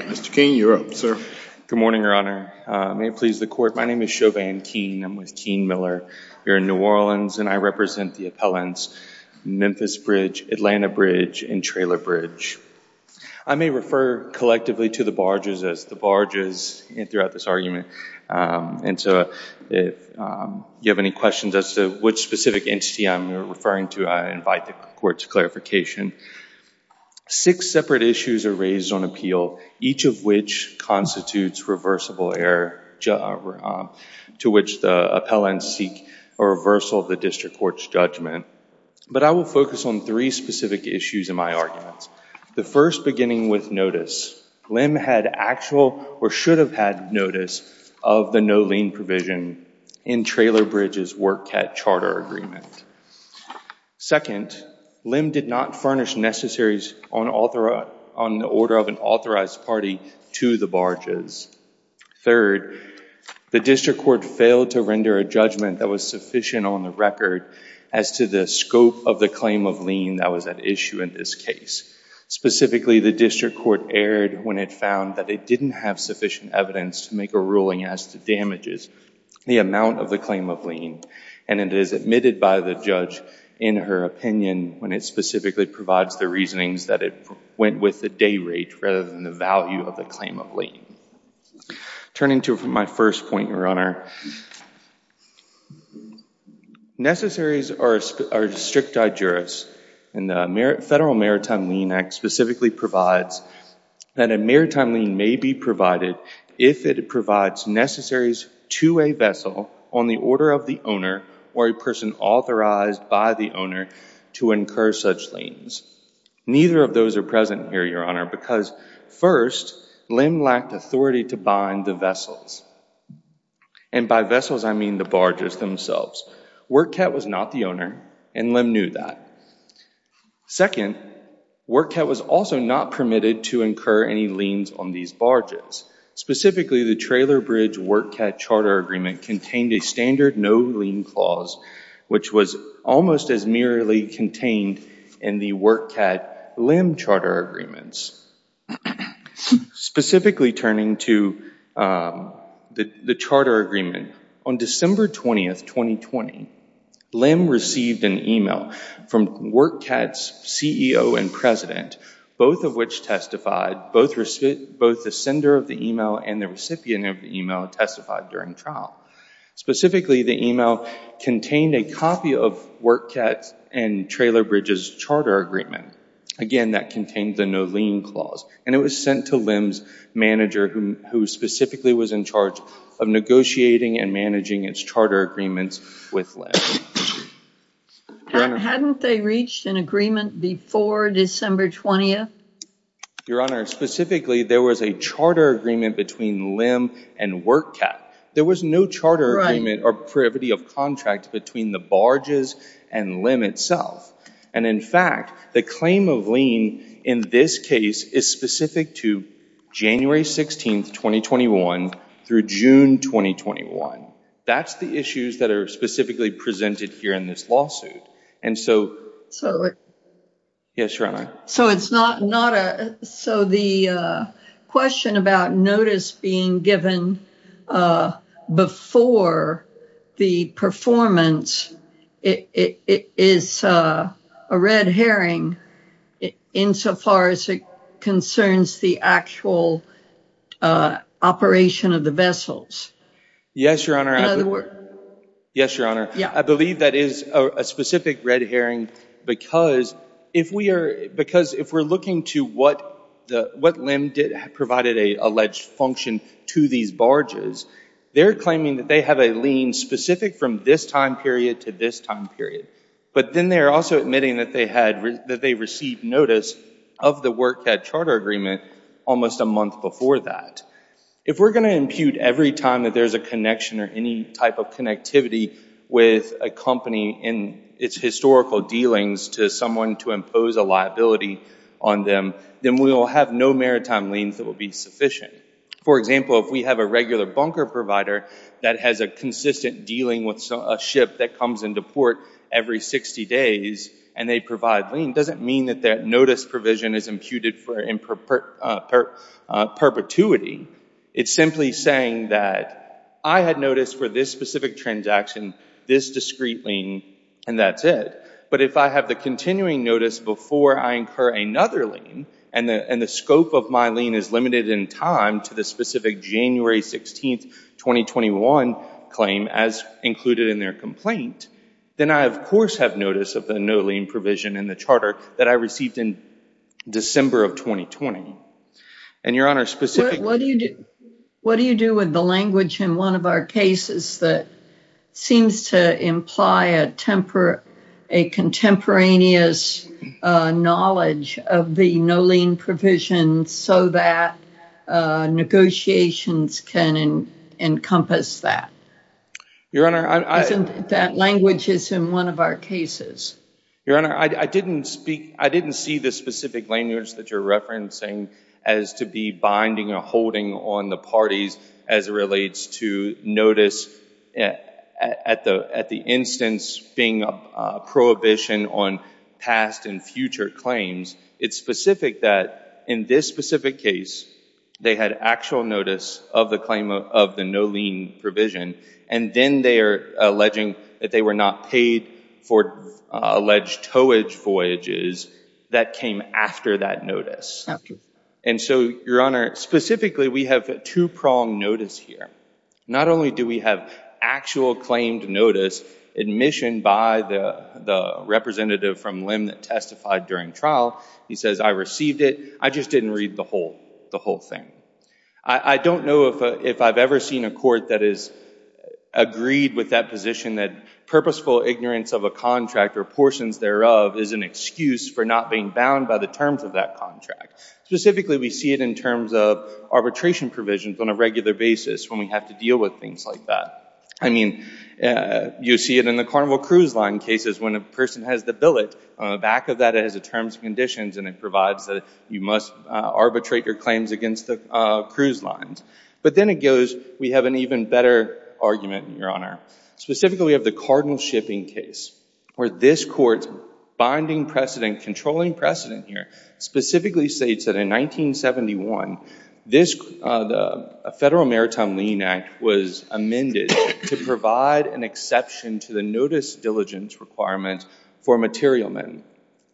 Mr. Keene, you're up, sir. Good morning, Your Honor. May it please the Court, my name is Chauvin Keene, I'm with Keene Miller. We're in New Orleans and I represent the appellants Memphis Bridge, Atlanta Bridge, and Trailer Bridge. I may refer collectively to the barges as the barges throughout this argument, and so if you have any questions as to which specific entity I'm referring to, I invite the Court to clarification. Six separate issues are raised on appeal, each of which constitutes reversible error to which the appellants seek a reversal of the district court's judgment. But I will focus on three specific issues in my arguments. The first beginning with notice. Lim had actual or should have had notice of the no lien provision in Trailer Bridge's Work Cat Charter Agreement. Second, Lim did not furnish necessaries on the order of an authorized party to the barges. Third, the district court failed to render a judgment that was sufficient on the record as to the scope of the claim of lien that was at issue in this case. Specifically, the district court erred when it found that it didn't have sufficient evidence to make a ruling as to damages, the amount of the claim of lien. And it is admitted by the judge in her opinion when it specifically provides the reasonings that it went with the day rate rather than the value of the claim of lien. Turning to my first point, Your Honor, necessaries are strict digeris. And the Federal Maritime Lien Act specifically provides that a maritime lien may be provided if it provides necessaries to a vessel on the order of the owner or a person authorized by the owner to incur such liens. Neither of those are present here, Your Honor, because first, Lim lacked authority to bind the vessels. And by vessels, I mean the barges themselves. WorkCat was not the owner, and Lim knew that. Second, WorkCat was also not permitted to incur any liens on these barges. Specifically, the Trailer Bridge WorkCat Charter Agreement contained a standard no lien clause, which was almost as merely contained in the WorkCat Lim Charter Agreements. Specifically, turning to the charter agreement, on December 20, 2020, Lim received an email from WorkCat's CEO and president, both of which testified, both the sender of the email and the recipient of the email testified during trial. Specifically, the email contained a copy of WorkCat and Trailer Bridge's charter agreement. Again, that contained the no lien clause. And it was sent to Lim's manager, who specifically was in charge of negotiating and managing its charter agreements with Lim. Your Honor. Hadn't they reached an agreement before December 20th? Your Honor, specifically, there was a charter agreement between Lim and WorkCat. There was no charter agreement or privity of contract between the barges and Lim itself. And in fact, the claim of lien in this case is specific to January 16, 2021 through June 2021. That's the issues that are specifically presented here in this lawsuit. And so, yes, Your Honor. So it's not, not a, so the question about notice being given before the performance, it is a red herring insofar as it concerns the actual operation of the vessels. Yes, Your Honor. Yes, Your Honor. I believe that is a specific red herring because if we are, because if we're looking to what the, what Lim provided a alleged function to these barges, they're claiming that they have a lien specific from this time period to this time period. But then they're also admitting that they had, that they received notice of the WorkCat charter agreement almost a month before that. If we're going to impute every time that there's a connection or any type of connectivity with a company in its historical dealings to someone to impose a liability on them, then we will have no maritime liens that will be sufficient. For example, if we have a regular bunker provider that has a consistent dealing with a ship that comes into port every 60 days and they provide lien, doesn't mean that that notice provision is imputed for perpetuity. It's simply saying that I had notice for this specific transaction, this discrete lien, and that's it. But if I have the continuing notice before I incur another lien and the scope of my lien is limited in time to the specific January 16th, 2021 claim as included in their complaint, then I of course have notice of the no lien provision in the charter that I received in December of 2020. And Your Honor, specific. What do you do with the language in one of our cases that seems to imply a contemporaneous knowledge of the no lien provision so that negotiations can encompass that? Your Honor, I- Isn't that language is in one of our cases? Your Honor, I didn't see the specific language that you're referencing as to be binding or holding on the parties as it relates to notice at the instance being a prohibition on past and future claims. It's specific that in this specific case, they had actual notice of the claim of the no lien provision and then they are alleging that they were not paid for alleged towage voyages that came after that notice. And so, Your Honor, specifically, we have a two-pronged notice here. Not only do we have actual claimed notice admission by the representative from LIM that testified during trial, he says, I received it, I just didn't read the whole thing. I don't know if I've ever seen a court that has agreed with that position that purposeful ignorance of a contract or portions thereof is an excuse for not being bound by the terms of that contract. Specifically, we see it in terms of arbitration provisions on a regular basis when we have to deal with things like that. I mean, you see it in the Carnival Cruise Line cases when a person has the billet. On the back of that, it has the terms and conditions and it provides that you must arbitrate your claims against the cruise lines. But then it goes, we have an even better argument, Your Honor. Specifically, we have the Cardinal Shipping case where this court's binding precedent, controlling precedent here, specifically states that in 1971, the Federal Maritime Lien Act was amended to provide an exception to the notice diligence requirement for material men.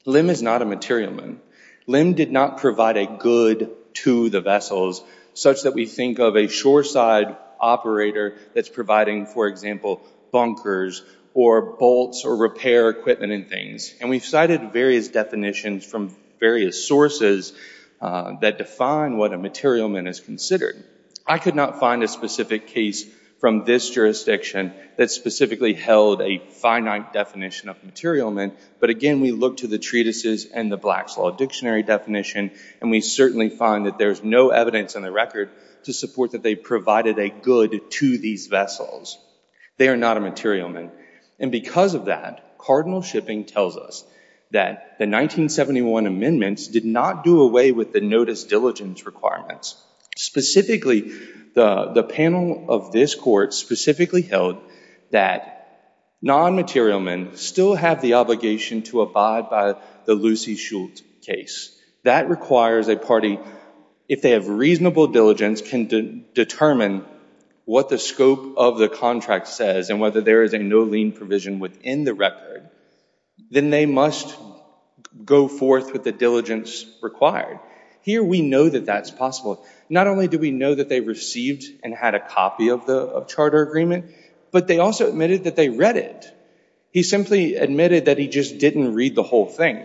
LIM is not a material man. LIM did not provide a good to the vessels such that we think of a shoreside operator that's providing, for example, bunkers or bolts or repair equipment and things. And we've cited various definitions from various sources that define what a material man is considered. I could not find a specific case from this jurisdiction that specifically held a finite definition of material man. But again, we look to the treatises and the Black's Law Dictionary definition, and we certainly find that there's no evidence on the record to support that they provided a good to these vessels. They are not a material man. And because of that, Cardinal Shipping tells us that the 1971 amendments did not do away with the notice diligence requirements. Specifically, the panel of this court specifically held that non-material men still have the obligation to abide by the Lucy Schultz case. That requires a party, if they have reasonable diligence, can determine what the scope of the contract says and whether there is a no lien provision within the record, then they must go forth with the diligence required. Here, we know that that's possible. Not only do we know that they received and had a copy of the charter agreement, but they also admitted that they read it. He simply admitted that he just didn't read the whole thing.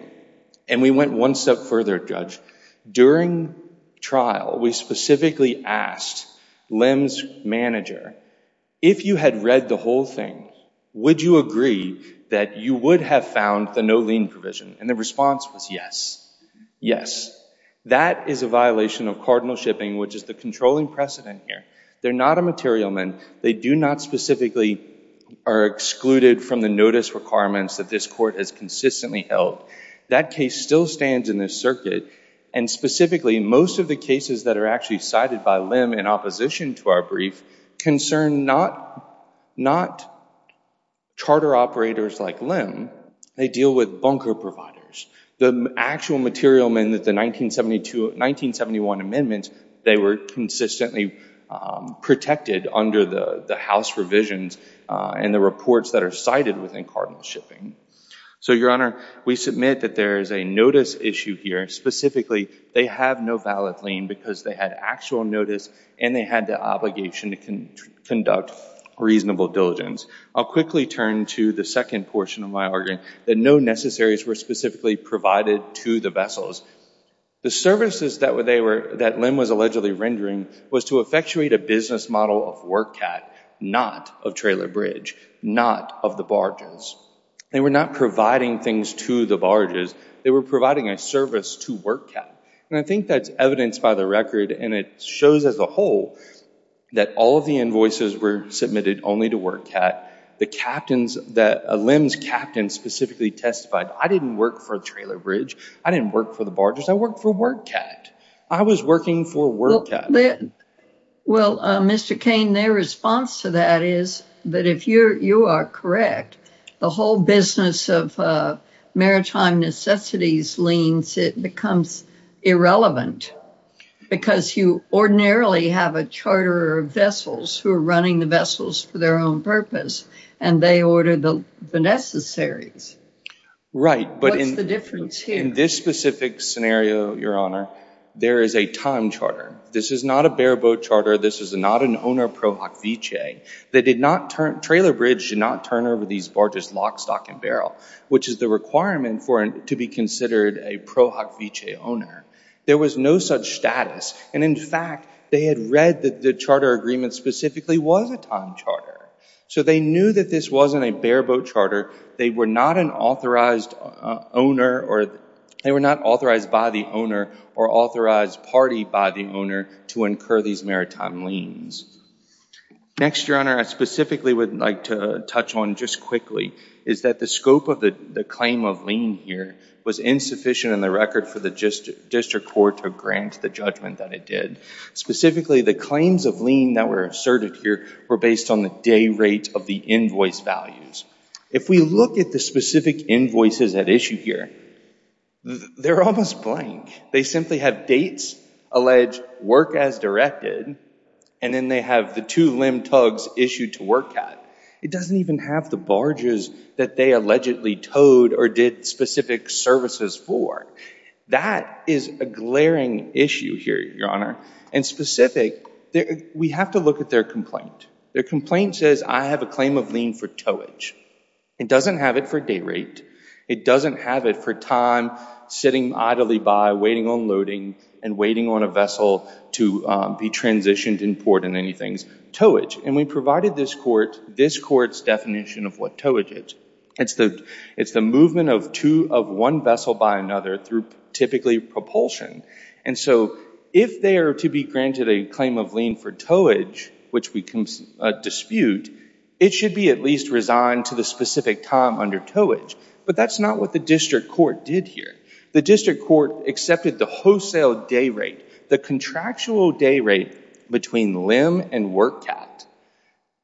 And we went one step further, Judge. During trial, we specifically asked Lim's manager, if you had read the whole thing, would you agree that you would have found the no lien provision? And the response was yes. Yes. That is a violation of Cardinal Shipping, which is the controlling precedent here. They're not a material man. They do not specifically are excluded from the notice requirements that this court has consistently held. That case still stands in this circuit. And specifically, most of the cases that are actually cited by Lim in opposition to our brief concern not charter operators like Lim. They deal with bunker providers. The actual material men that the 1971 amendments, they were consistently protected under the house revisions and the reports that are cited within Cardinal Shipping. So Your Honor, we submit that there is a notice issue here. Specifically, they have no valid lien because they had actual notice and they had the obligation to conduct reasonable diligence. I'll quickly turn to the second portion of my argument, that no necessaries were specifically provided to the vessels. The services that Lim was allegedly rendering was to effectuate a business model of work cat, not of trailer bridge, not of the barges. They were not providing things to the barges. They were providing a service to work cat. And I think that's evidenced by the record and it shows as a whole that all of the invoices were submitted only to work cat. The captains that Lim's captain specifically testified, I didn't work for a trailer bridge. I didn't work for the barges. I worked for work cat. I was working for work cat. Well, Mr. Cain, their response to that is that if you are correct, the whole business of maritime necessities liens, it becomes irrelevant because you ordinarily have a charter of vessels who are running the vessels for their own purpose and they order the necessaries. Right, but in this specific scenario, Your Honor, there is a time charter. This is not a bare boat charter. This is not an owner pro hoc vice. Trailer bridge did not turn over these barges lock, stock and barrel, which is the requirement to be considered a pro hoc vice owner. There was no such status. And in fact, they had read that the charter agreement specifically was a time charter. So they knew that this wasn't a bare boat charter. They were not an authorized owner or they were not authorized by the owner or authorized party by the owner to incur these maritime liens. Next, Your Honor, I specifically would like to touch on just quickly is that the scope of the claim of lien here was insufficient in the record for the district court to grant the judgment that it did. Specifically, the claims of lien that were asserted here were based on the day rate of the invoice values. If we look at the specific invoices at issue here, they're almost blank. They simply have dates, alleged work as directed, and then they have the two limb tugs issued to work at. It doesn't even have the barges that they allegedly towed or did specific services for. That is a glaring issue here, Your Honor. And specific, we have to look at their complaint. Their complaint says, I have a claim of lien for towage. It doesn't have it for day rate. It doesn't have it for time sitting idly by, waiting on loading, and waiting on a vessel to be transitioned in port and any things. And we provided this court's definition of what towage is. It's the movement of one vessel by another through typically propulsion. And so if they are to be granted a claim of lien for towage, which we dispute, it should be at least resigned to the specific time under towage. But that's not what the district court did here. The district court accepted the wholesale day rate, the contractual day rate between limb and work cat.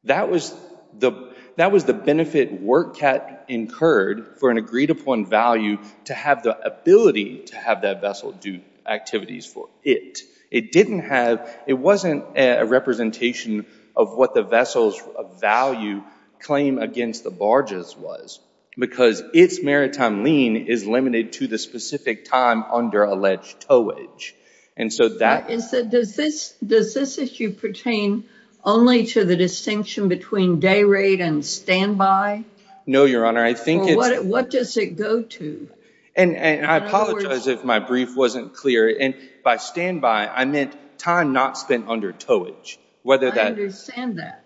That was the benefit work cat incurred for an agreed upon value to have the ability to have that vessel do activities for it. It didn't have, it wasn't a representation of what the vessel's value claim against the barges was because its maritime lien is limited to the specific time under alleged towage. And so that is that does this, does this issue pertain only to the distinction between day rate and standby? No, Your Honor. I think it's, what does it go to? And I apologize if my brief wasn't clear. And by standby, I meant time not spent under towage. Whether that, I understand that.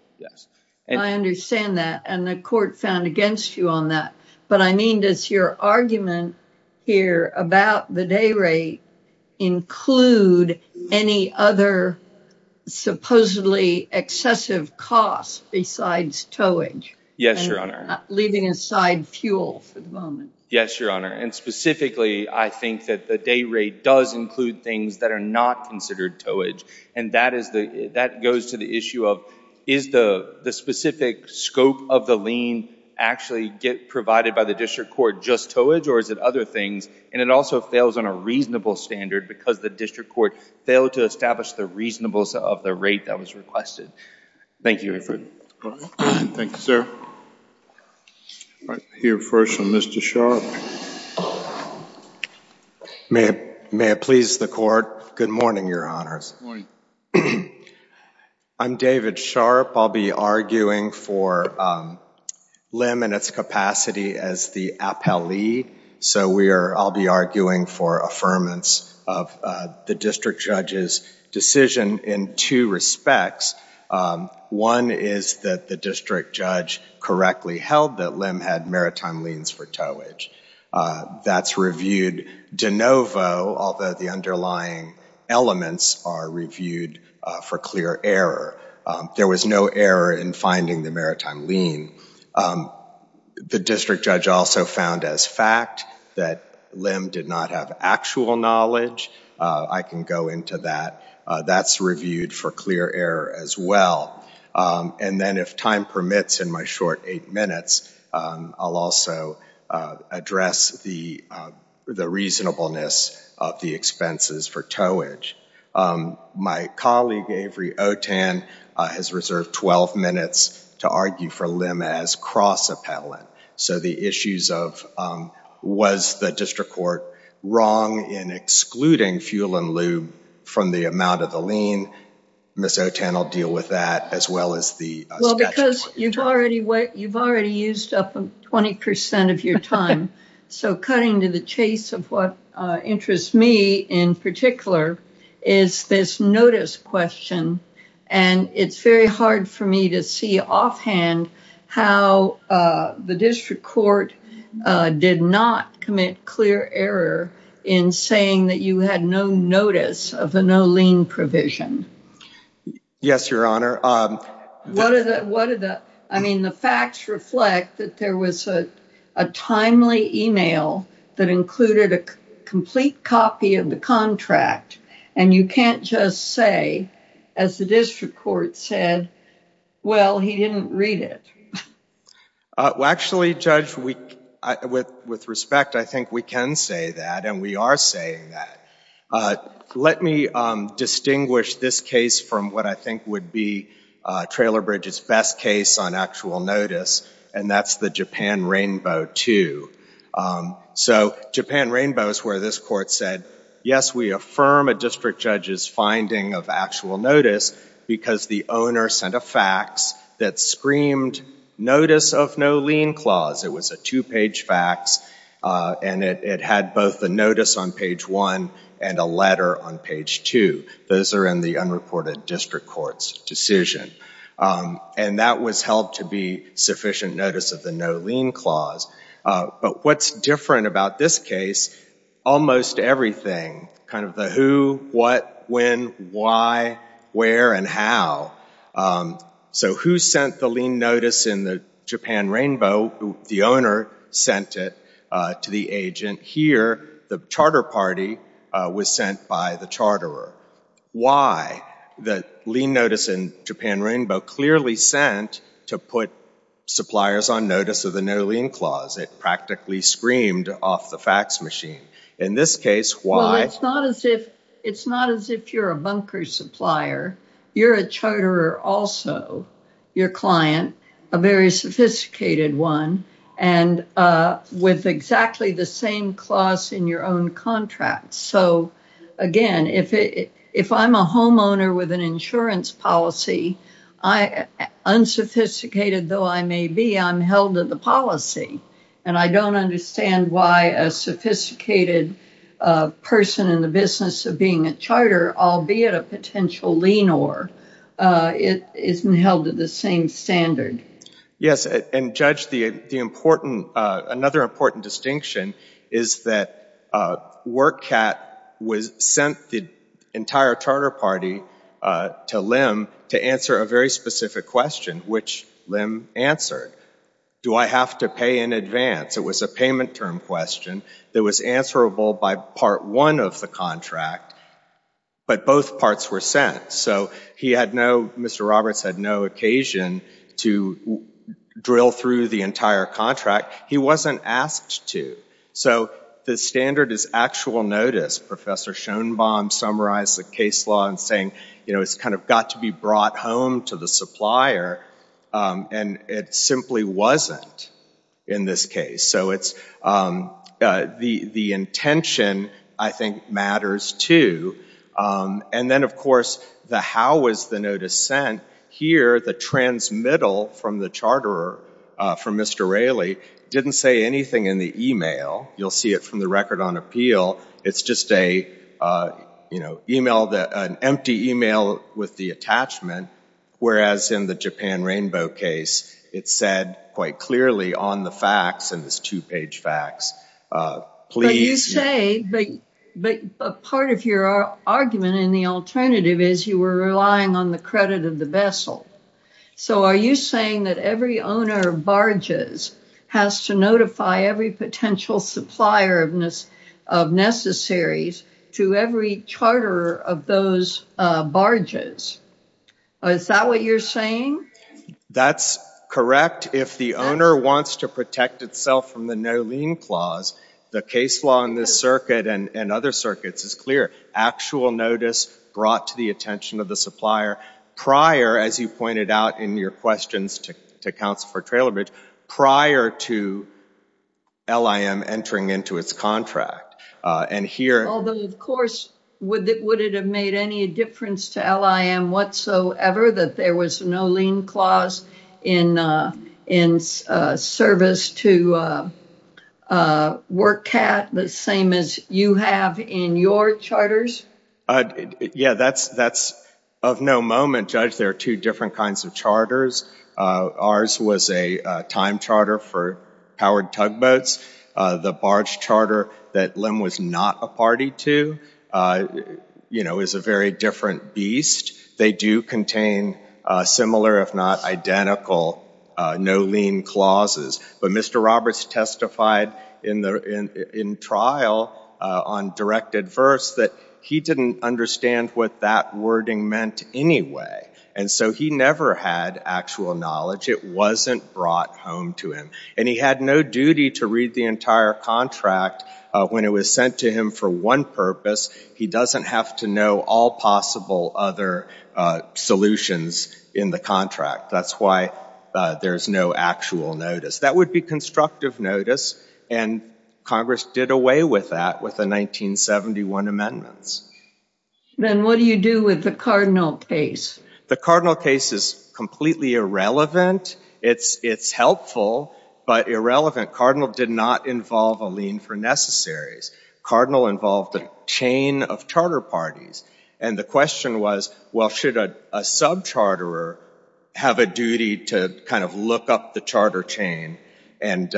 But I mean, does your argument here about the day rate include any other supposedly excessive costs besides towage? Yes, Your Honor. Leaving aside fuel for the moment. Yes, Your Honor. And specifically, I think that the day rate does include things that are not considered towage. And that goes to the issue of, is the specific scope of the lien actually get provided by the district court just towage? Or is it other things? And it also fails on a reasonable standard because the district court failed to establish the reasonableness of the rate that was requested. Thank you, Your Honor. Thank you, sir. I'll hear first from Mr. Sharpe. May it please the court. Good morning, Your Honors. I'm David Sharpe. I'll be arguing for Lim and its capacity as the appellee. So I'll be arguing for affirmance of the district judge's decision in two respects. One is that the district judge correctly held that Lim had maritime liens for towage. That's reviewed de novo, although the underlying elements are reviewed for clear error. There was no error in finding the maritime lien. The district judge also found as fact that Lim did not have actual knowledge. I can go into that. That's reviewed for clear error as well. And then if time permits in my short eight minutes, I'll also address the reasonableness of the expenses for towage. My colleague, Avery Otan, has reserved 12 minutes to argue for Lim as cross-appellant. So the issues of was the district court wrong in excluding fuel and lube from the amount of the lien, Ms. Otan will deal with that, as well as the statute. Well, because you've already used up 20% of your time. So cutting to the chase of what interests me in particular is this notice question. And it's very hard for me to see offhand how the district court did not commit clear error in saying that you had no notice of the no lien provision. Yes, Your Honor. I mean, the facts reflect that there was a timely email that included a complete copy of the contract. And you can't just say, as the district court said, well, he didn't read it. Well, actually, Judge, with respect, I think we can say that. And we are saying that. Let me distinguish this case from what I think would be Trailer Bridge's best case on actual notice. And that's the Japan Rainbow 2. So Japan Rainbow is where this court said, yes, we affirm a district judge's finding of actual notice because the owner sent a fax that screamed notice of no lien clause. It was a two-page fax. And it had both the notice on page one and a letter on page two. Those are in the unreported district court's decision. And that was held to be sufficient notice of the no lien clause. But what's different about this case, almost everything. Kind of the who, what, when, why, where, and how. So who sent the lien notice in the Japan Rainbow? The owner sent it to the agent. Here, the charter party was sent by the charterer. Why? The lien notice in Japan Rainbow clearly sent to put suppliers on notice of the no lien clause. It practically screamed off the fax machine. In this case, why? It's not as if you're a bunker supplier. You're a charterer also, your client, a very sophisticated one, and with exactly the same clause in your own contract. So again, if I'm a homeowner with an insurance policy, unsophisticated though I may be, I'm held to the policy. And I don't understand why a sophisticated person in the business of being a charter, albeit a potential lien-or, isn't held to the same standard. Yes, and Judge, another important distinction is that WorkCat sent the entire charter party to LIM to answer a very specific question, which LIM answered. Do I have to pay in advance? It was a payment term question that was answerable by part one of the contract, but both parts were sent. So he had no, Mr. Roberts had no occasion to drill through the entire contract. He wasn't asked to. So the standard is actual notice. Professor Schoenbaum summarized the case law in saying it's kind of got to be brought home to the supplier, and it simply wasn't in this case. So the intention, I think, matters too. And then, of course, the how was the notice sent? Here, the transmittal from the charterer, from Mr. Raley, didn't say anything in the email. You'll see it from the record on appeal. It's just an empty email with the attachment, whereas in the Japan Rainbow case, it said quite clearly on the fax, in this two-page fax, please. But you say, but part of your argument in the alternative is you were relying on the credit of the vessel. So are you saying that every owner of barges has to notify every potential supplier of necessaries to every charterer of those barges? Is that what you're saying? That's correct. If the owner wants to protect itself from the no lien clause, the case law in this circuit and other circuits is clear. Actual notice brought to the attention of the supplier prior, as you pointed out in your questions to Counsel for Trailer Bridge, prior to LIM entering into its contract. And here, Although, of course, would it have made any difference to LIM whatsoever that there was no lien clause in service to WorkCat, the same as you have in your charters? Yeah, that's of no moment. Judge, there are two different kinds of charters. Ours was a time charter for powered tugboats. The barge charter that LIM was not a party to is a very different beast. They do contain similar, if not identical, no lien clauses. But Mr. Roberts testified in trial on directed verse that he didn't understand what that wording meant anyway. And so he never had actual knowledge. It wasn't brought home to him. And he had no duty to read the entire contract when it was sent to him for one purpose. He doesn't have to know all possible other solutions in the contract. That's why there's no actual notice. That would be constructive notice. And Congress did away with that with the 1971 amendments. Then what do you do with the Cardinal case? The Cardinal case is completely irrelevant. It's helpful, but irrelevant. Cardinal did not involve a lien for necessaries. Cardinal involved a chain of charter parties. And the question was, well, should a sub-charter have a duty to kind of look up the charter chain and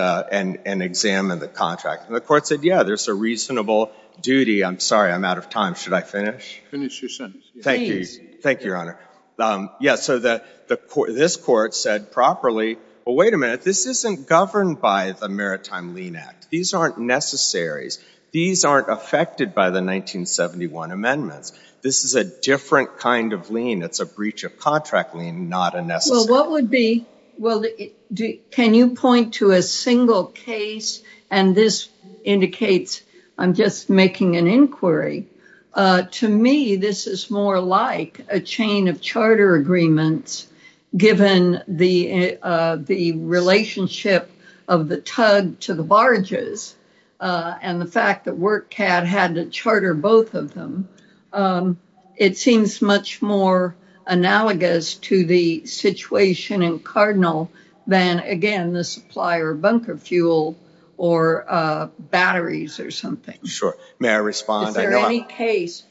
examine the contract? And the court said, yeah, there's a reasonable duty. I'm sorry. I'm out of time. Should I finish? Finish your sentence. Thank you. Thank you, Your Honor. Yeah, so this court said properly, well, wait a minute. This isn't governed by the Maritime Lien Act. These aren't necessaries. These aren't affected by the 1971 amendments. This is a different kind of lien. It's a breach of contract lien, not a necessary. Well, what would be? Well, can you point to a single case? And this indicates I'm just making an inquiry. To me, this is more like a chain of charter agreements, given the relationship of the tug to the barges and the fact that WorkCat had to charter both of them. It seems much more analogous to the situation in Cardinal than, again, the supplier bunker fuel or batteries or something. Sure. May I respond? Is there any case?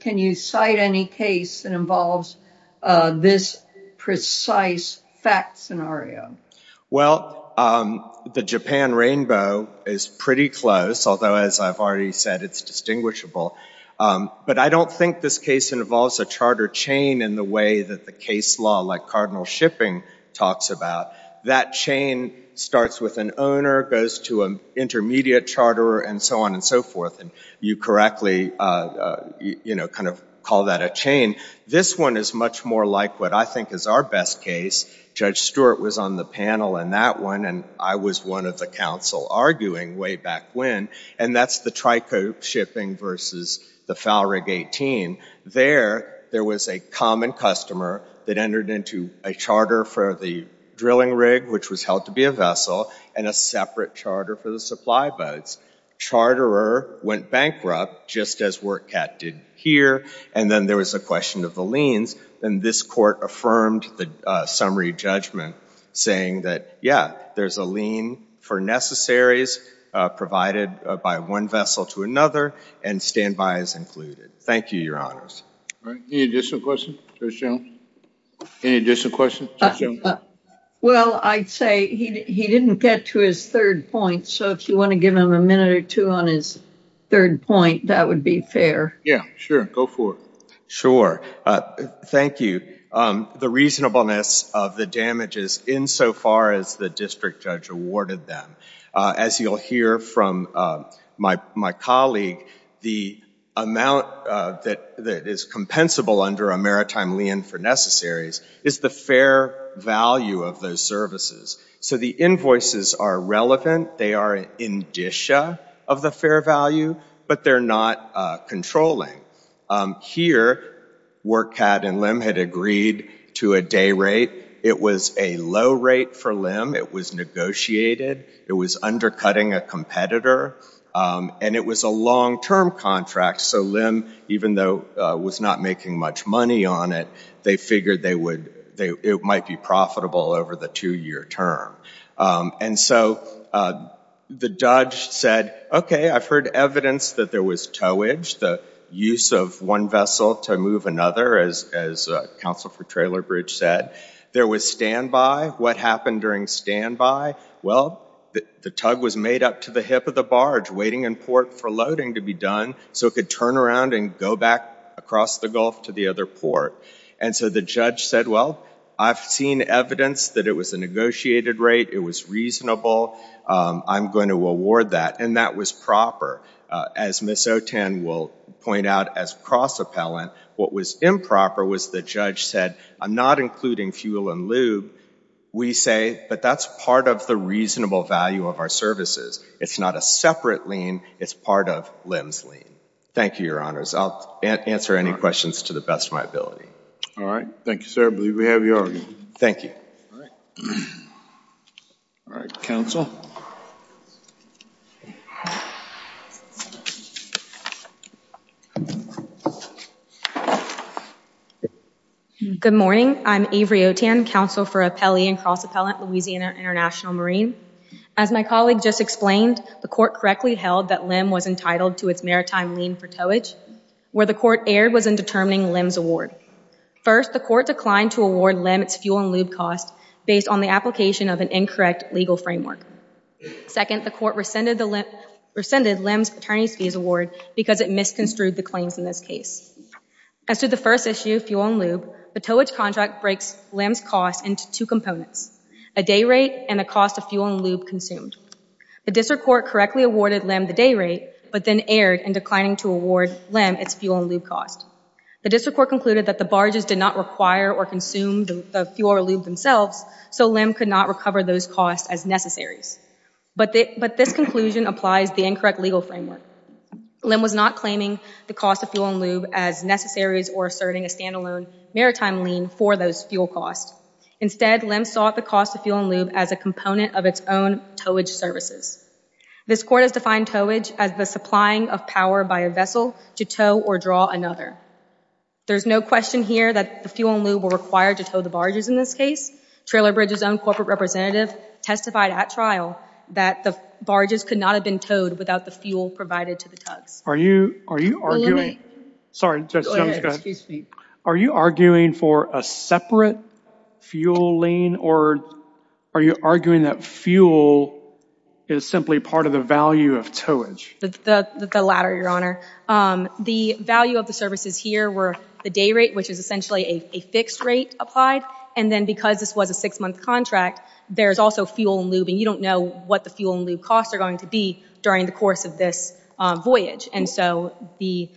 Can you cite any case that involves this precise fact scenario? Well, the Japan Rainbow is pretty close, although, as I've already said, it's distinguishable. But I don't think this case involves a charter chain in the way that the case law, like Cardinal Shipping talks about. That chain starts with an owner, goes to an intermediate charterer, and so on and so forth. And you correctly kind of call that a chain. This one is much more like what I think is our best case. Judge Stewart was on the panel in that one, and I was one of the counsel arguing way back when. And that's the Trico Shipping versus the Falrig 18. There, there was a common customer that entered into a charter for the drilling rig, which was held to be a vessel, and a separate charter for the supply boats. Charterer went bankrupt, just as WorkCat did here. And then there was a question of the liens. And this court affirmed the summary judgment, saying that, yeah, there's a lien for necessaries provided by one vessel to another, and standby is included. Thank you, Your Honors. Any additional questions, Judge Jones? Any additional questions, Judge Jones? Well, I'd say he didn't get to his third point. So if you want to give him a minute or two on his third point, that would be fair. Yeah, sure. Go for it. Sure. Thank you. The reasonableness of the damages insofar as the district judge awarded them. As you'll hear from my colleague, the amount that is compensable under a maritime lien for necessaries is the fair value of those services. So the invoices are relevant. They are an indicia of the fair value, but they're not controlling. Here, WorkCat and LIM had agreed to a day rate. It was a low rate for LIM. It was negotiated. It was undercutting a competitor. And it was a long-term contract, so LIM, even though it was not making much money on it, they figured it might be profitable over the two-year term. And so the judge said, OK, I've heard evidence that there was towage, the use of one vessel to move another, as Counsel for Traylor Bridge said. There was standby. What happened during standby? Well, the tug was made up to the hip of the barge, waiting in port for loading to be done, so it could turn around and go back across the gulf to the other port. And so the judge said, well, I've seen evidence that it was a negotiated rate. It was reasonable. I'm going to award that. And that was proper. As Ms. O'Tan will point out as cross-appellant, what was improper was the judge said, I'm not including fuel and lube. We say, but that's part of the reasonable value of our services. It's not a separate lien. It's part of LIM's lien. Thank you, Your Honors. I'll answer any questions to the best of my ability. All right. Thank you, sir. I believe we have yours. Thank you. All right. All right, Counsel. Thank you. Good morning. I'm Avery O'Tan, Counsel for Appellee and Cross-Appellant Louisiana International Marine. As my colleague just explained, the court correctly held that LIM was entitled to its maritime lien for towage. Where the court erred was in determining LIM's award. First, the court declined to award LIM its fuel and lube cost based on the application of an incorrect legal framework. Second, the court rescinded LIM's attorney's fees award because it misconstrued the claims in this case. As to the first issue, fuel and lube, the towage contract breaks LIM's cost into two components, a day rate and the cost of fuel and lube consumed. The district court correctly awarded LIM the day rate, but then erred in declining to award LIM its fuel and lube cost. The district court concluded that the barges did not require or consume the fuel or lube themselves, so LIM could not recover those costs as necessaries. But this conclusion applies the incorrect legal framework. LIM was not claiming the cost of fuel and lube as necessaries or asserting a standalone maritime lien for those fuel costs. Instead, LIM sought the cost of fuel and lube as a component of its own towage services. This court has defined towage as the supplying of power by a vessel to tow or draw another. There's no question here that the fuel and lube were required to tow the barges in this case, Trailer Bridge's own corporate representative testified at trial that the barges could not have been towed without the fuel provided to the tugs. Are you arguing for a separate fuel lien, or are you arguing that fuel is simply part of the value of towage? The latter, Your Honor. The value of the services here were the day rate, which is essentially a fixed rate applied, and then because this was a six-month contract, there's also fuel and lube, and you don't know what the fuel and lube costs are going to be during the course of this voyage. And so the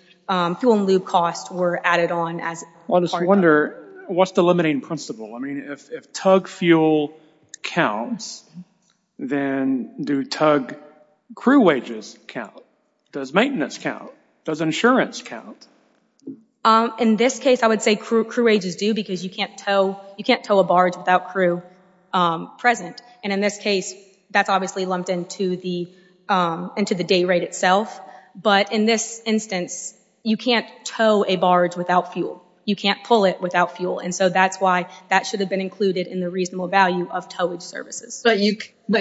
fuel and lube costs were added on as part of it. I just wonder, what's the limiting principle? I mean, if tug fuel counts, then do tug crew wages count? Does maintenance count? Does insurance count? In this case, I would say crew wages do because you can't tow a barge without crew present. And in this case, that's obviously lumped into the day rate itself. But in this instance, you can't tow a barge without fuel. You can't pull it without fuel. And so that's why that should have been included in the reasonable value of towage services. But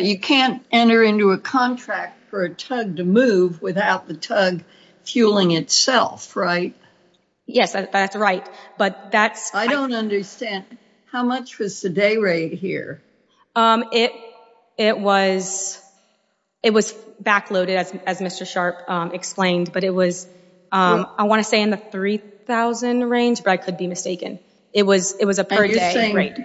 you can't enter into a contract for a tug to move without the tug fueling itself, right? Yes, that's right. I don't understand. How much was the day rate here? It was backloaded, as Mr. Sharp explained. But it was, I want to say, in the 3,000 range, but I could be mistaken. It was a per day rate.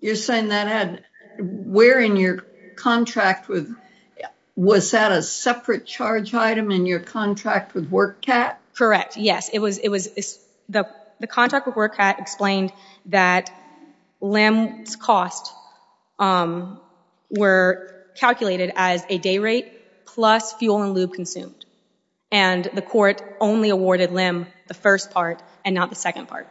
You're saying that had where in your contract with, was that a separate charge item in your contract with WorkCat? Correct, yes. The contract with WorkCat explained that LIM's cost were calculated as a day rate plus fuel and lube consumed. And the court only awarded LIM the first part and not the second part.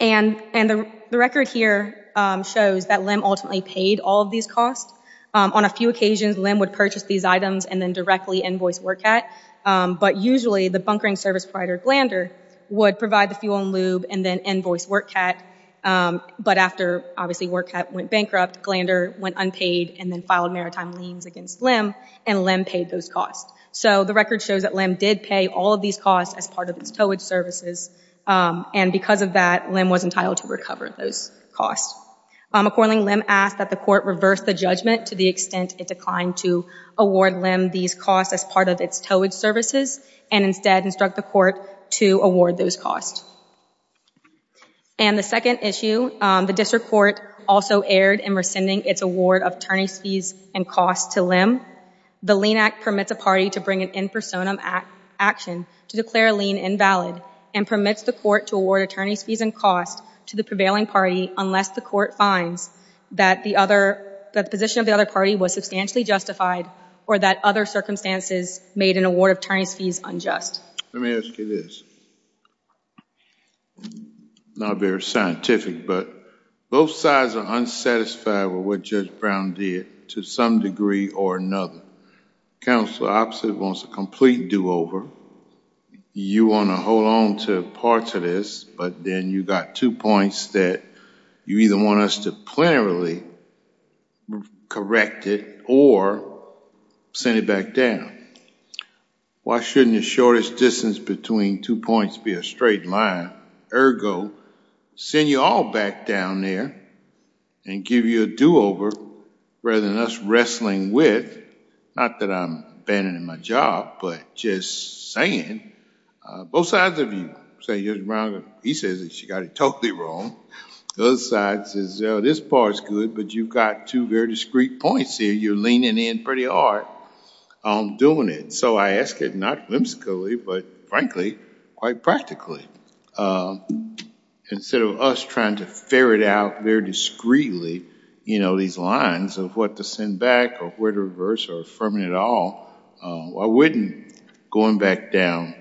And the record here shows that LIM ultimately paid all of these costs. On a few occasions, LIM would purchase these items and then directly invoice WorkCat. But usually, the bunkering service provider, Glander, would provide the fuel and lube and then invoice WorkCat. But after, obviously, WorkCat went bankrupt, Glander went unpaid and then filed maritime liens against LIM. And LIM paid those costs. So the record shows that LIM did pay all of these costs as part of its towage services. And because of that, LIM was entitled to recover those costs. Accordingly, LIM asked that the court reverse the judgment to the extent it declined to award LIM these costs as part of its towage services and instead instruct the court to award those costs. And the second issue, the district court also erred in rescinding its award of attorney's fees and costs to LIM. The lien act permits a party to bring an in personam action to declare a lien invalid and permits the court to award attorney's fees and costs to the prevailing party unless the court finds that the position of the other party was substantially justified or that other circumstances made an award of attorney's fees unjust. Let me ask you this, not very scientific, but both sides are unsatisfied with what Judge Brown did to some degree or another. Counselor, I absolutely want a complete do over. You want to hold on to parts of this, but then you've got two points that you either want us to plenarily correct it or send it back down. Why shouldn't the shortest distance between two points be a straight line? Ergo, send you all back down there and give you a do over rather than us wrestling with, not that I'm abandoning my job, but just saying, both sides of you say Judge Brown, he says that you got it totally wrong. The other side says, this part's good, but you've got two very discreet points here. You're leaning in pretty hard on doing it. So I ask it not whimsically, but frankly, quite practically. Instead of us trying to ferret out very discreetly these lines of what to send back or where to reverse or affirming it all, why wouldn't going back down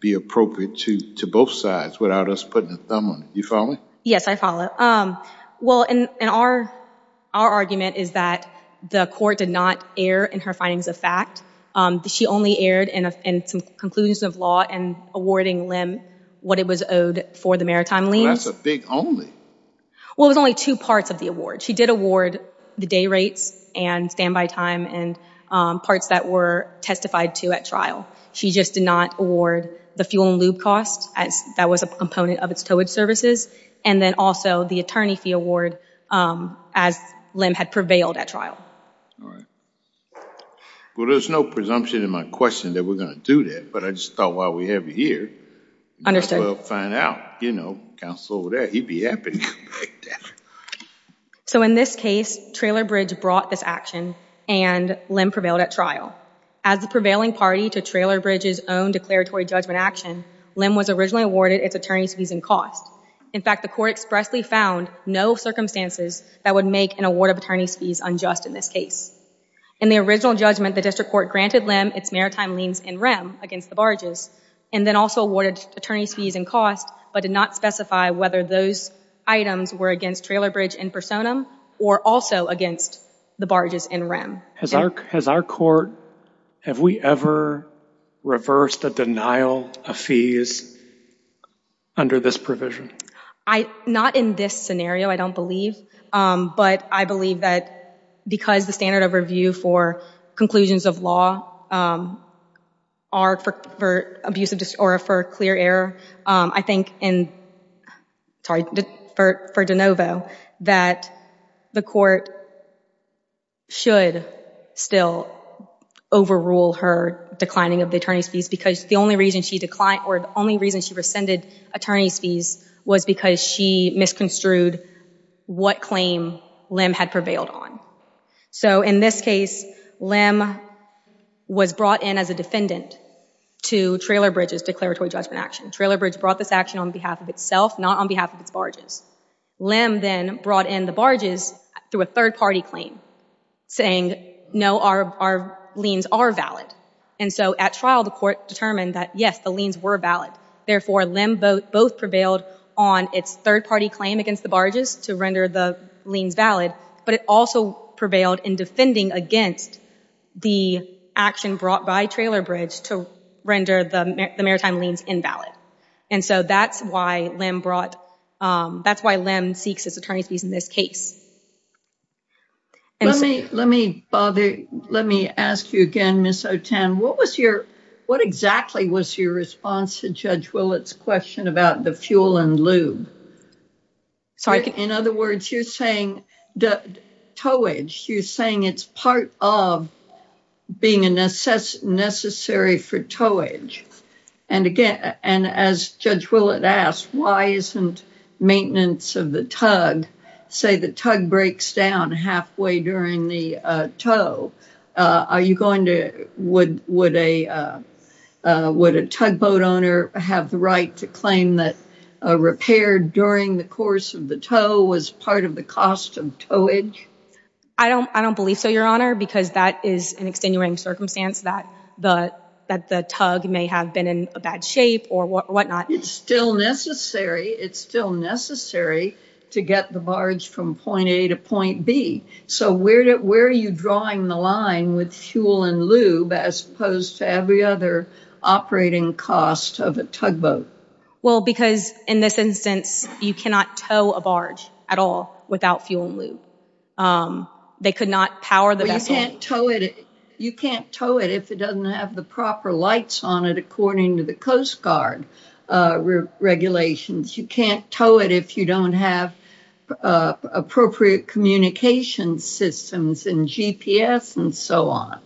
be appropriate to both sides without us putting a thumb on it? You follow me? Yes, I follow. Well, and our argument is that the court did not err in her findings of fact. She only erred in some conclusions of law and awarding Lim what it was owed for the maritime liens. Well, that's a big only. Well, it was only two parts of the award. She did award the day rates and standby time and parts that were testified to at trial. She just did not award the fuel and lube cost, as that was a component of its towage services, and then also the attorney fee award as Lim had prevailed at trial. Well, there's no presumption in my question that we're going to do that, but I just thought while we have you here, we might as well find out. You know, counsel over there, he'd be happy to take that. So in this case, Trailer Bridge brought this action and Lim prevailed at trial. As the prevailing party to Trailer Bridge's own declaratory judgment action, Lim was originally awarded its attorney's fees and cost. In fact, the court expressly found no circumstances that would make an award of attorney's fees unjust in this case. In the original judgment, the district court granted Lim its maritime liens and REM against the barges, and then also awarded attorney's fees and cost, but did not specify whether those items were against Trailer Bridge in personam or also against the barges in REM. Has our court, have we ever reversed a denial of fees under this provision? Not in this scenario, I don't believe. But I believe that because the standard of review for conclusions of law are for clear error, I think in, sorry, for de novo, that the court should still overrule her declining of the attorney's fees because the only reason she declined or the only reason she rescinded attorney's fees was because she misconstrued what claim Lim had prevailed on. So in this case, Lim was brought in as a defendant to Trailer Bridge's declaratory judgment action. Trailer Bridge brought this action on behalf of itself, not on behalf of its barges. Lim then brought in the barges through a third party claim, saying, no, our liens are valid. And so at trial, the court determined that, yes, the liens were valid. Therefore, Lim both prevailed on its third party claim against the barges to render the liens valid, but it also prevailed in defending against the action brought by Trailer Bridge to render the maritime liens invalid. And so that's why Lim brought, that's why Lim seeks his attorney's fees in this case. Let me bother, let me ask you again, Ms. O'Tan. What was your, what exactly was your response to Judge Willett's question about the fuel and lube? In other words, you're saying the towage, you're saying it's part of being necessary for towage. And again, and as Judge Willett asked, why isn't maintenance of the tug, say the tug breaks down halfway during the tow, are you going to, would a tugboat owner have the right to claim that a repair during the course of the tow was part of the cost of towage? I don't believe so, Your Honor, because that is an extenuating circumstance that the tug may have been in a bad shape or whatnot. It's still necessary. It's still necessary to get the barge from point A to point B. So where are you drawing the line with fuel and lube as opposed to every other operating cost of a tugboat? Well, because in this instance, you cannot tow a barge at all without fuel and lube. They could not power the vessel. You can't tow it if it doesn't have the proper lights on it, according to the Coast Guard regulations. You can't tow it if you don't have appropriate communication systems and GPS and so on.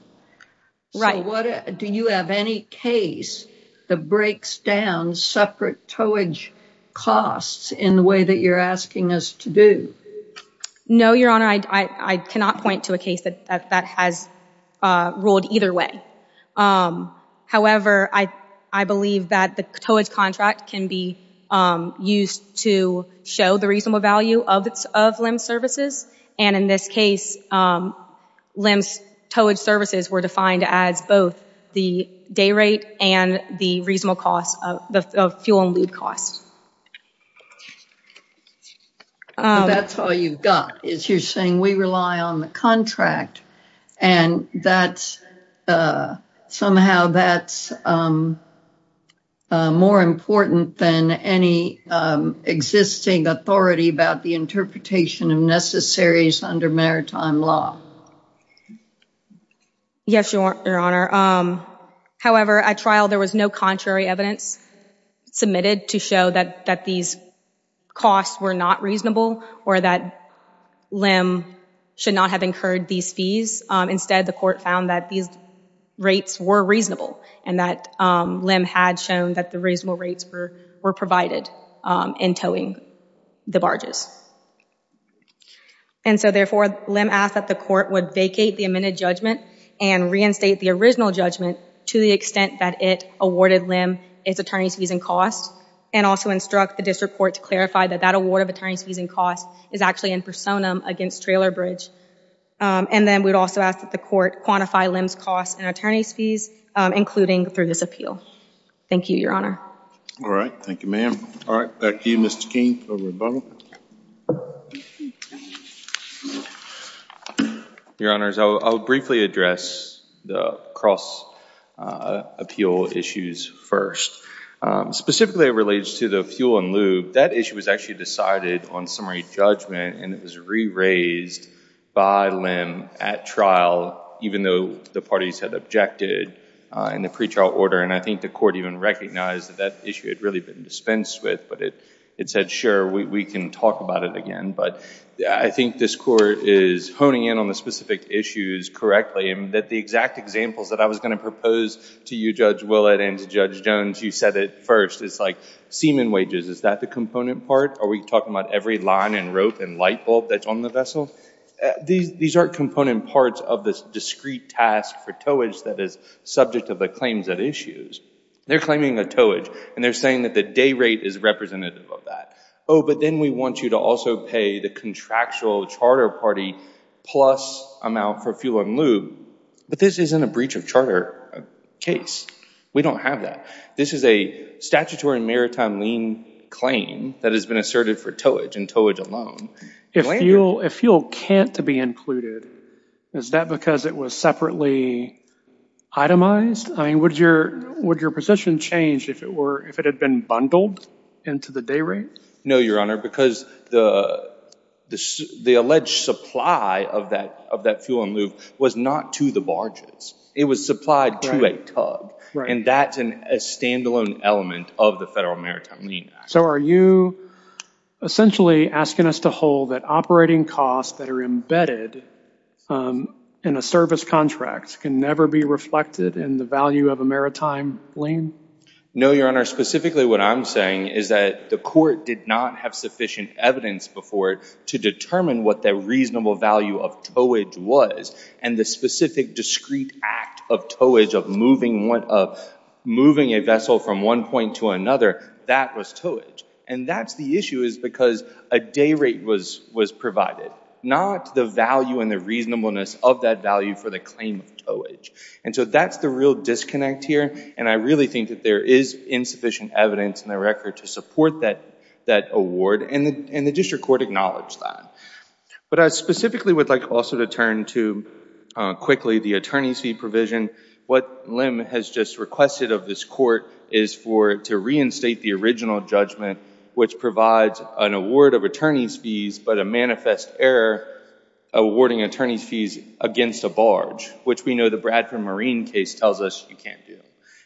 Do you have any case that breaks down separate towage costs in the way that you're asking us to do? No, Your Honor, I cannot point to a case that has ruled either way. However, I believe that the towage contract can be used to show the reasonable value of LIMS services. And in this case, LIMS towage services were defined as both the day rate and the reasonable cost of fuel and lube costs. That's all you've got, is you're saying we rely on the contract. And somehow, that's more important than any existing authority about the interpretation of necessaries under maritime law. Yes, Your Honor. However, at trial, there was no contrary evidence submitted to show that these costs were not reasonable or that LIM should not have incurred these fees. Instead, the court found that these rates were reasonable and that LIM had shown that the reasonable rates were provided in towing the barges. And so therefore, LIM asked that the court would vacate the amended judgment and reinstate the original judgment to the extent that it awarded LIM its attorney's fees and costs, and also instruct the district court to clarify that that award of attorney's fees and costs is actually in personam against Trailer Bridge. And then we'd also ask that the court quantify LIM's costs and attorney's fees, including through this appeal. Thank you, Your Honor. All right, thank you, ma'am. All right, back to you, Mr. Keene. Over to Butler. Your Honors, I'll briefly address the cross appeal issues first. Specifically, it relates to the fuel and lube. That issue was actually decided on summary judgment, and it was re-raised by LIM at trial, even though the parties had objected in the pretrial order. And I think the court even recognized that that issue had really been dispensed with. But it said, sure, we can talk about it again. But I think this court is honing in on the specific issues correctly, and that the exact examples that I was going to propose to you, Judge Willett, and to Judge Jones, you said it first. It's like semen wages. Is that the component part? Are we talking about every line and rope and light bulb that's on the vessel? These aren't component parts of this discrete task for towage that is subject of the claims at issues. They're claiming a towage, and they're saying that the day rate is representative of that. Oh, but then we want you to also pay the contractual charter party plus amount for fuel and lube. But this isn't a breach of charter case. We don't have that. This is a statutory maritime lien claim that has been asserted for towage and towage alone. If fuel can't to be included, is that because it was separately itemized? I mean, would your position change if it had been bundled into the day rate? No, Your Honor, because the alleged supply of that fuel and lube was not to the barges. It was supplied to a tug. And that's a standalone element of the Federal Maritime Lien Act. So are you essentially asking us to hold that operating costs that are embedded in a service contract can never be reflected in the value of a maritime lien? No, Your Honor. Specifically, what I'm saying is that the court did not have sufficient evidence before it to determine what the reasonable value of towage was. And the specific discrete act of towage, of moving a vessel from one point to another, that was towage. And that's the issue, is because a day rate was provided, not the value and the reasonableness of that value for the claim of towage. And so that's the real disconnect here. And I really think that there is insufficient evidence in the record to support that award. And the district court acknowledged that. But I specifically would like also to turn to, quickly, the attorney's fee provision. What Lim has just requested of this court is for it to reinstate the original judgment, which provides an award of attorney's fees, but a manifest error awarding attorney's fees against a barge, which we know the Bradford Marine case tells us you can't do.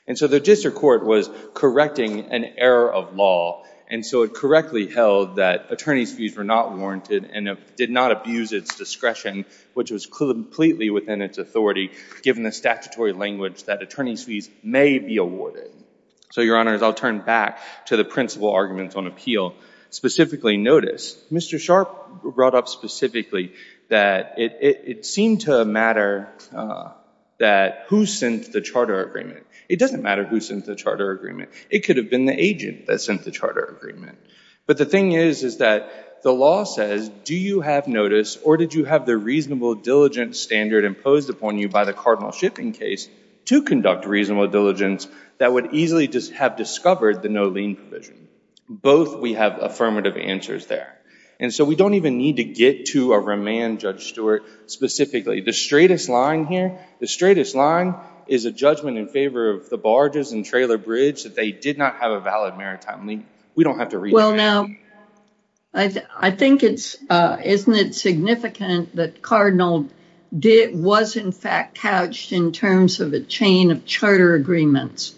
And so the district court was correcting an error of law. And so it correctly held that attorney's fees were not warranted and did not abuse its discretion, which was completely within its authority, given the statutory language that attorney's fees may be awarded. So, Your Honors, I'll turn back to the principal arguments on appeal. Specifically notice, Mr. Sharpe brought up specifically that it seemed to matter who sent the charter agreement. It doesn't matter who sent the charter agreement. It could have been the agent that sent the charter agreement. But the thing is that the law says, do you have notice, or did you have the reasonable diligence standard imposed upon you by the cardinal shipping case to conduct reasonable diligence that would easily have discovered the no lien provision? Both we have affirmative answers there. And so we don't even need to get to a remand, Judge Stewart, specifically. The straightest line here, the straightest line is a judgment in favor of the barges and trailer bridge that they did not have a valid maritime lien. We don't have to read that. I think it's, isn't it significant that Cardinal was, in fact, couched in terms of a chain of charter agreements?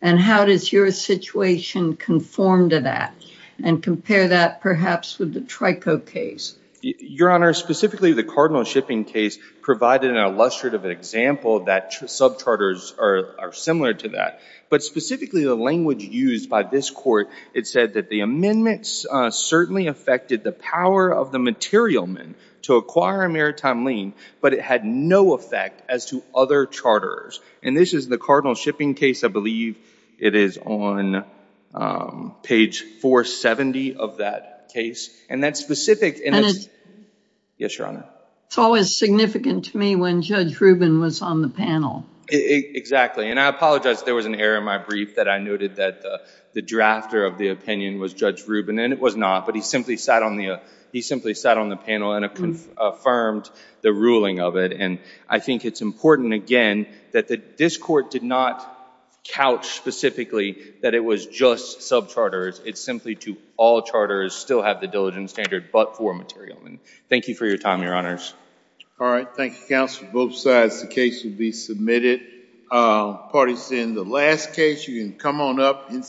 And how does your situation conform to that and compare that, perhaps, with the Trico case? Your Honor, specifically the cardinal shipping case provided an illustrative example that subcharters are similar to that. But specifically, the language used by this court, it said that the amendments certainly affected the power of the material men to acquire a maritime lien, but it had no effect as to other charters. And this is the cardinal shipping case. I believe it is on page 470 of that case. And that's specific in its, yes, Your Honor? It's always significant to me when Judge Rubin was on the panel. Exactly. And I apologize. There was an error in my brief that I noted that the drafter of the opinion was Judge Rubin, and it was not. But he simply sat on the panel and affirmed the ruling of it. And I think it's important, again, that this court did not couch specifically that it was just subcharters. It's simply to all charters still have the diligence standard but for material men. Thank you for your time, Your Honors. All right. Thank you, counsel. Both sides, the case will be submitted. Parties in the last case, you can come on up.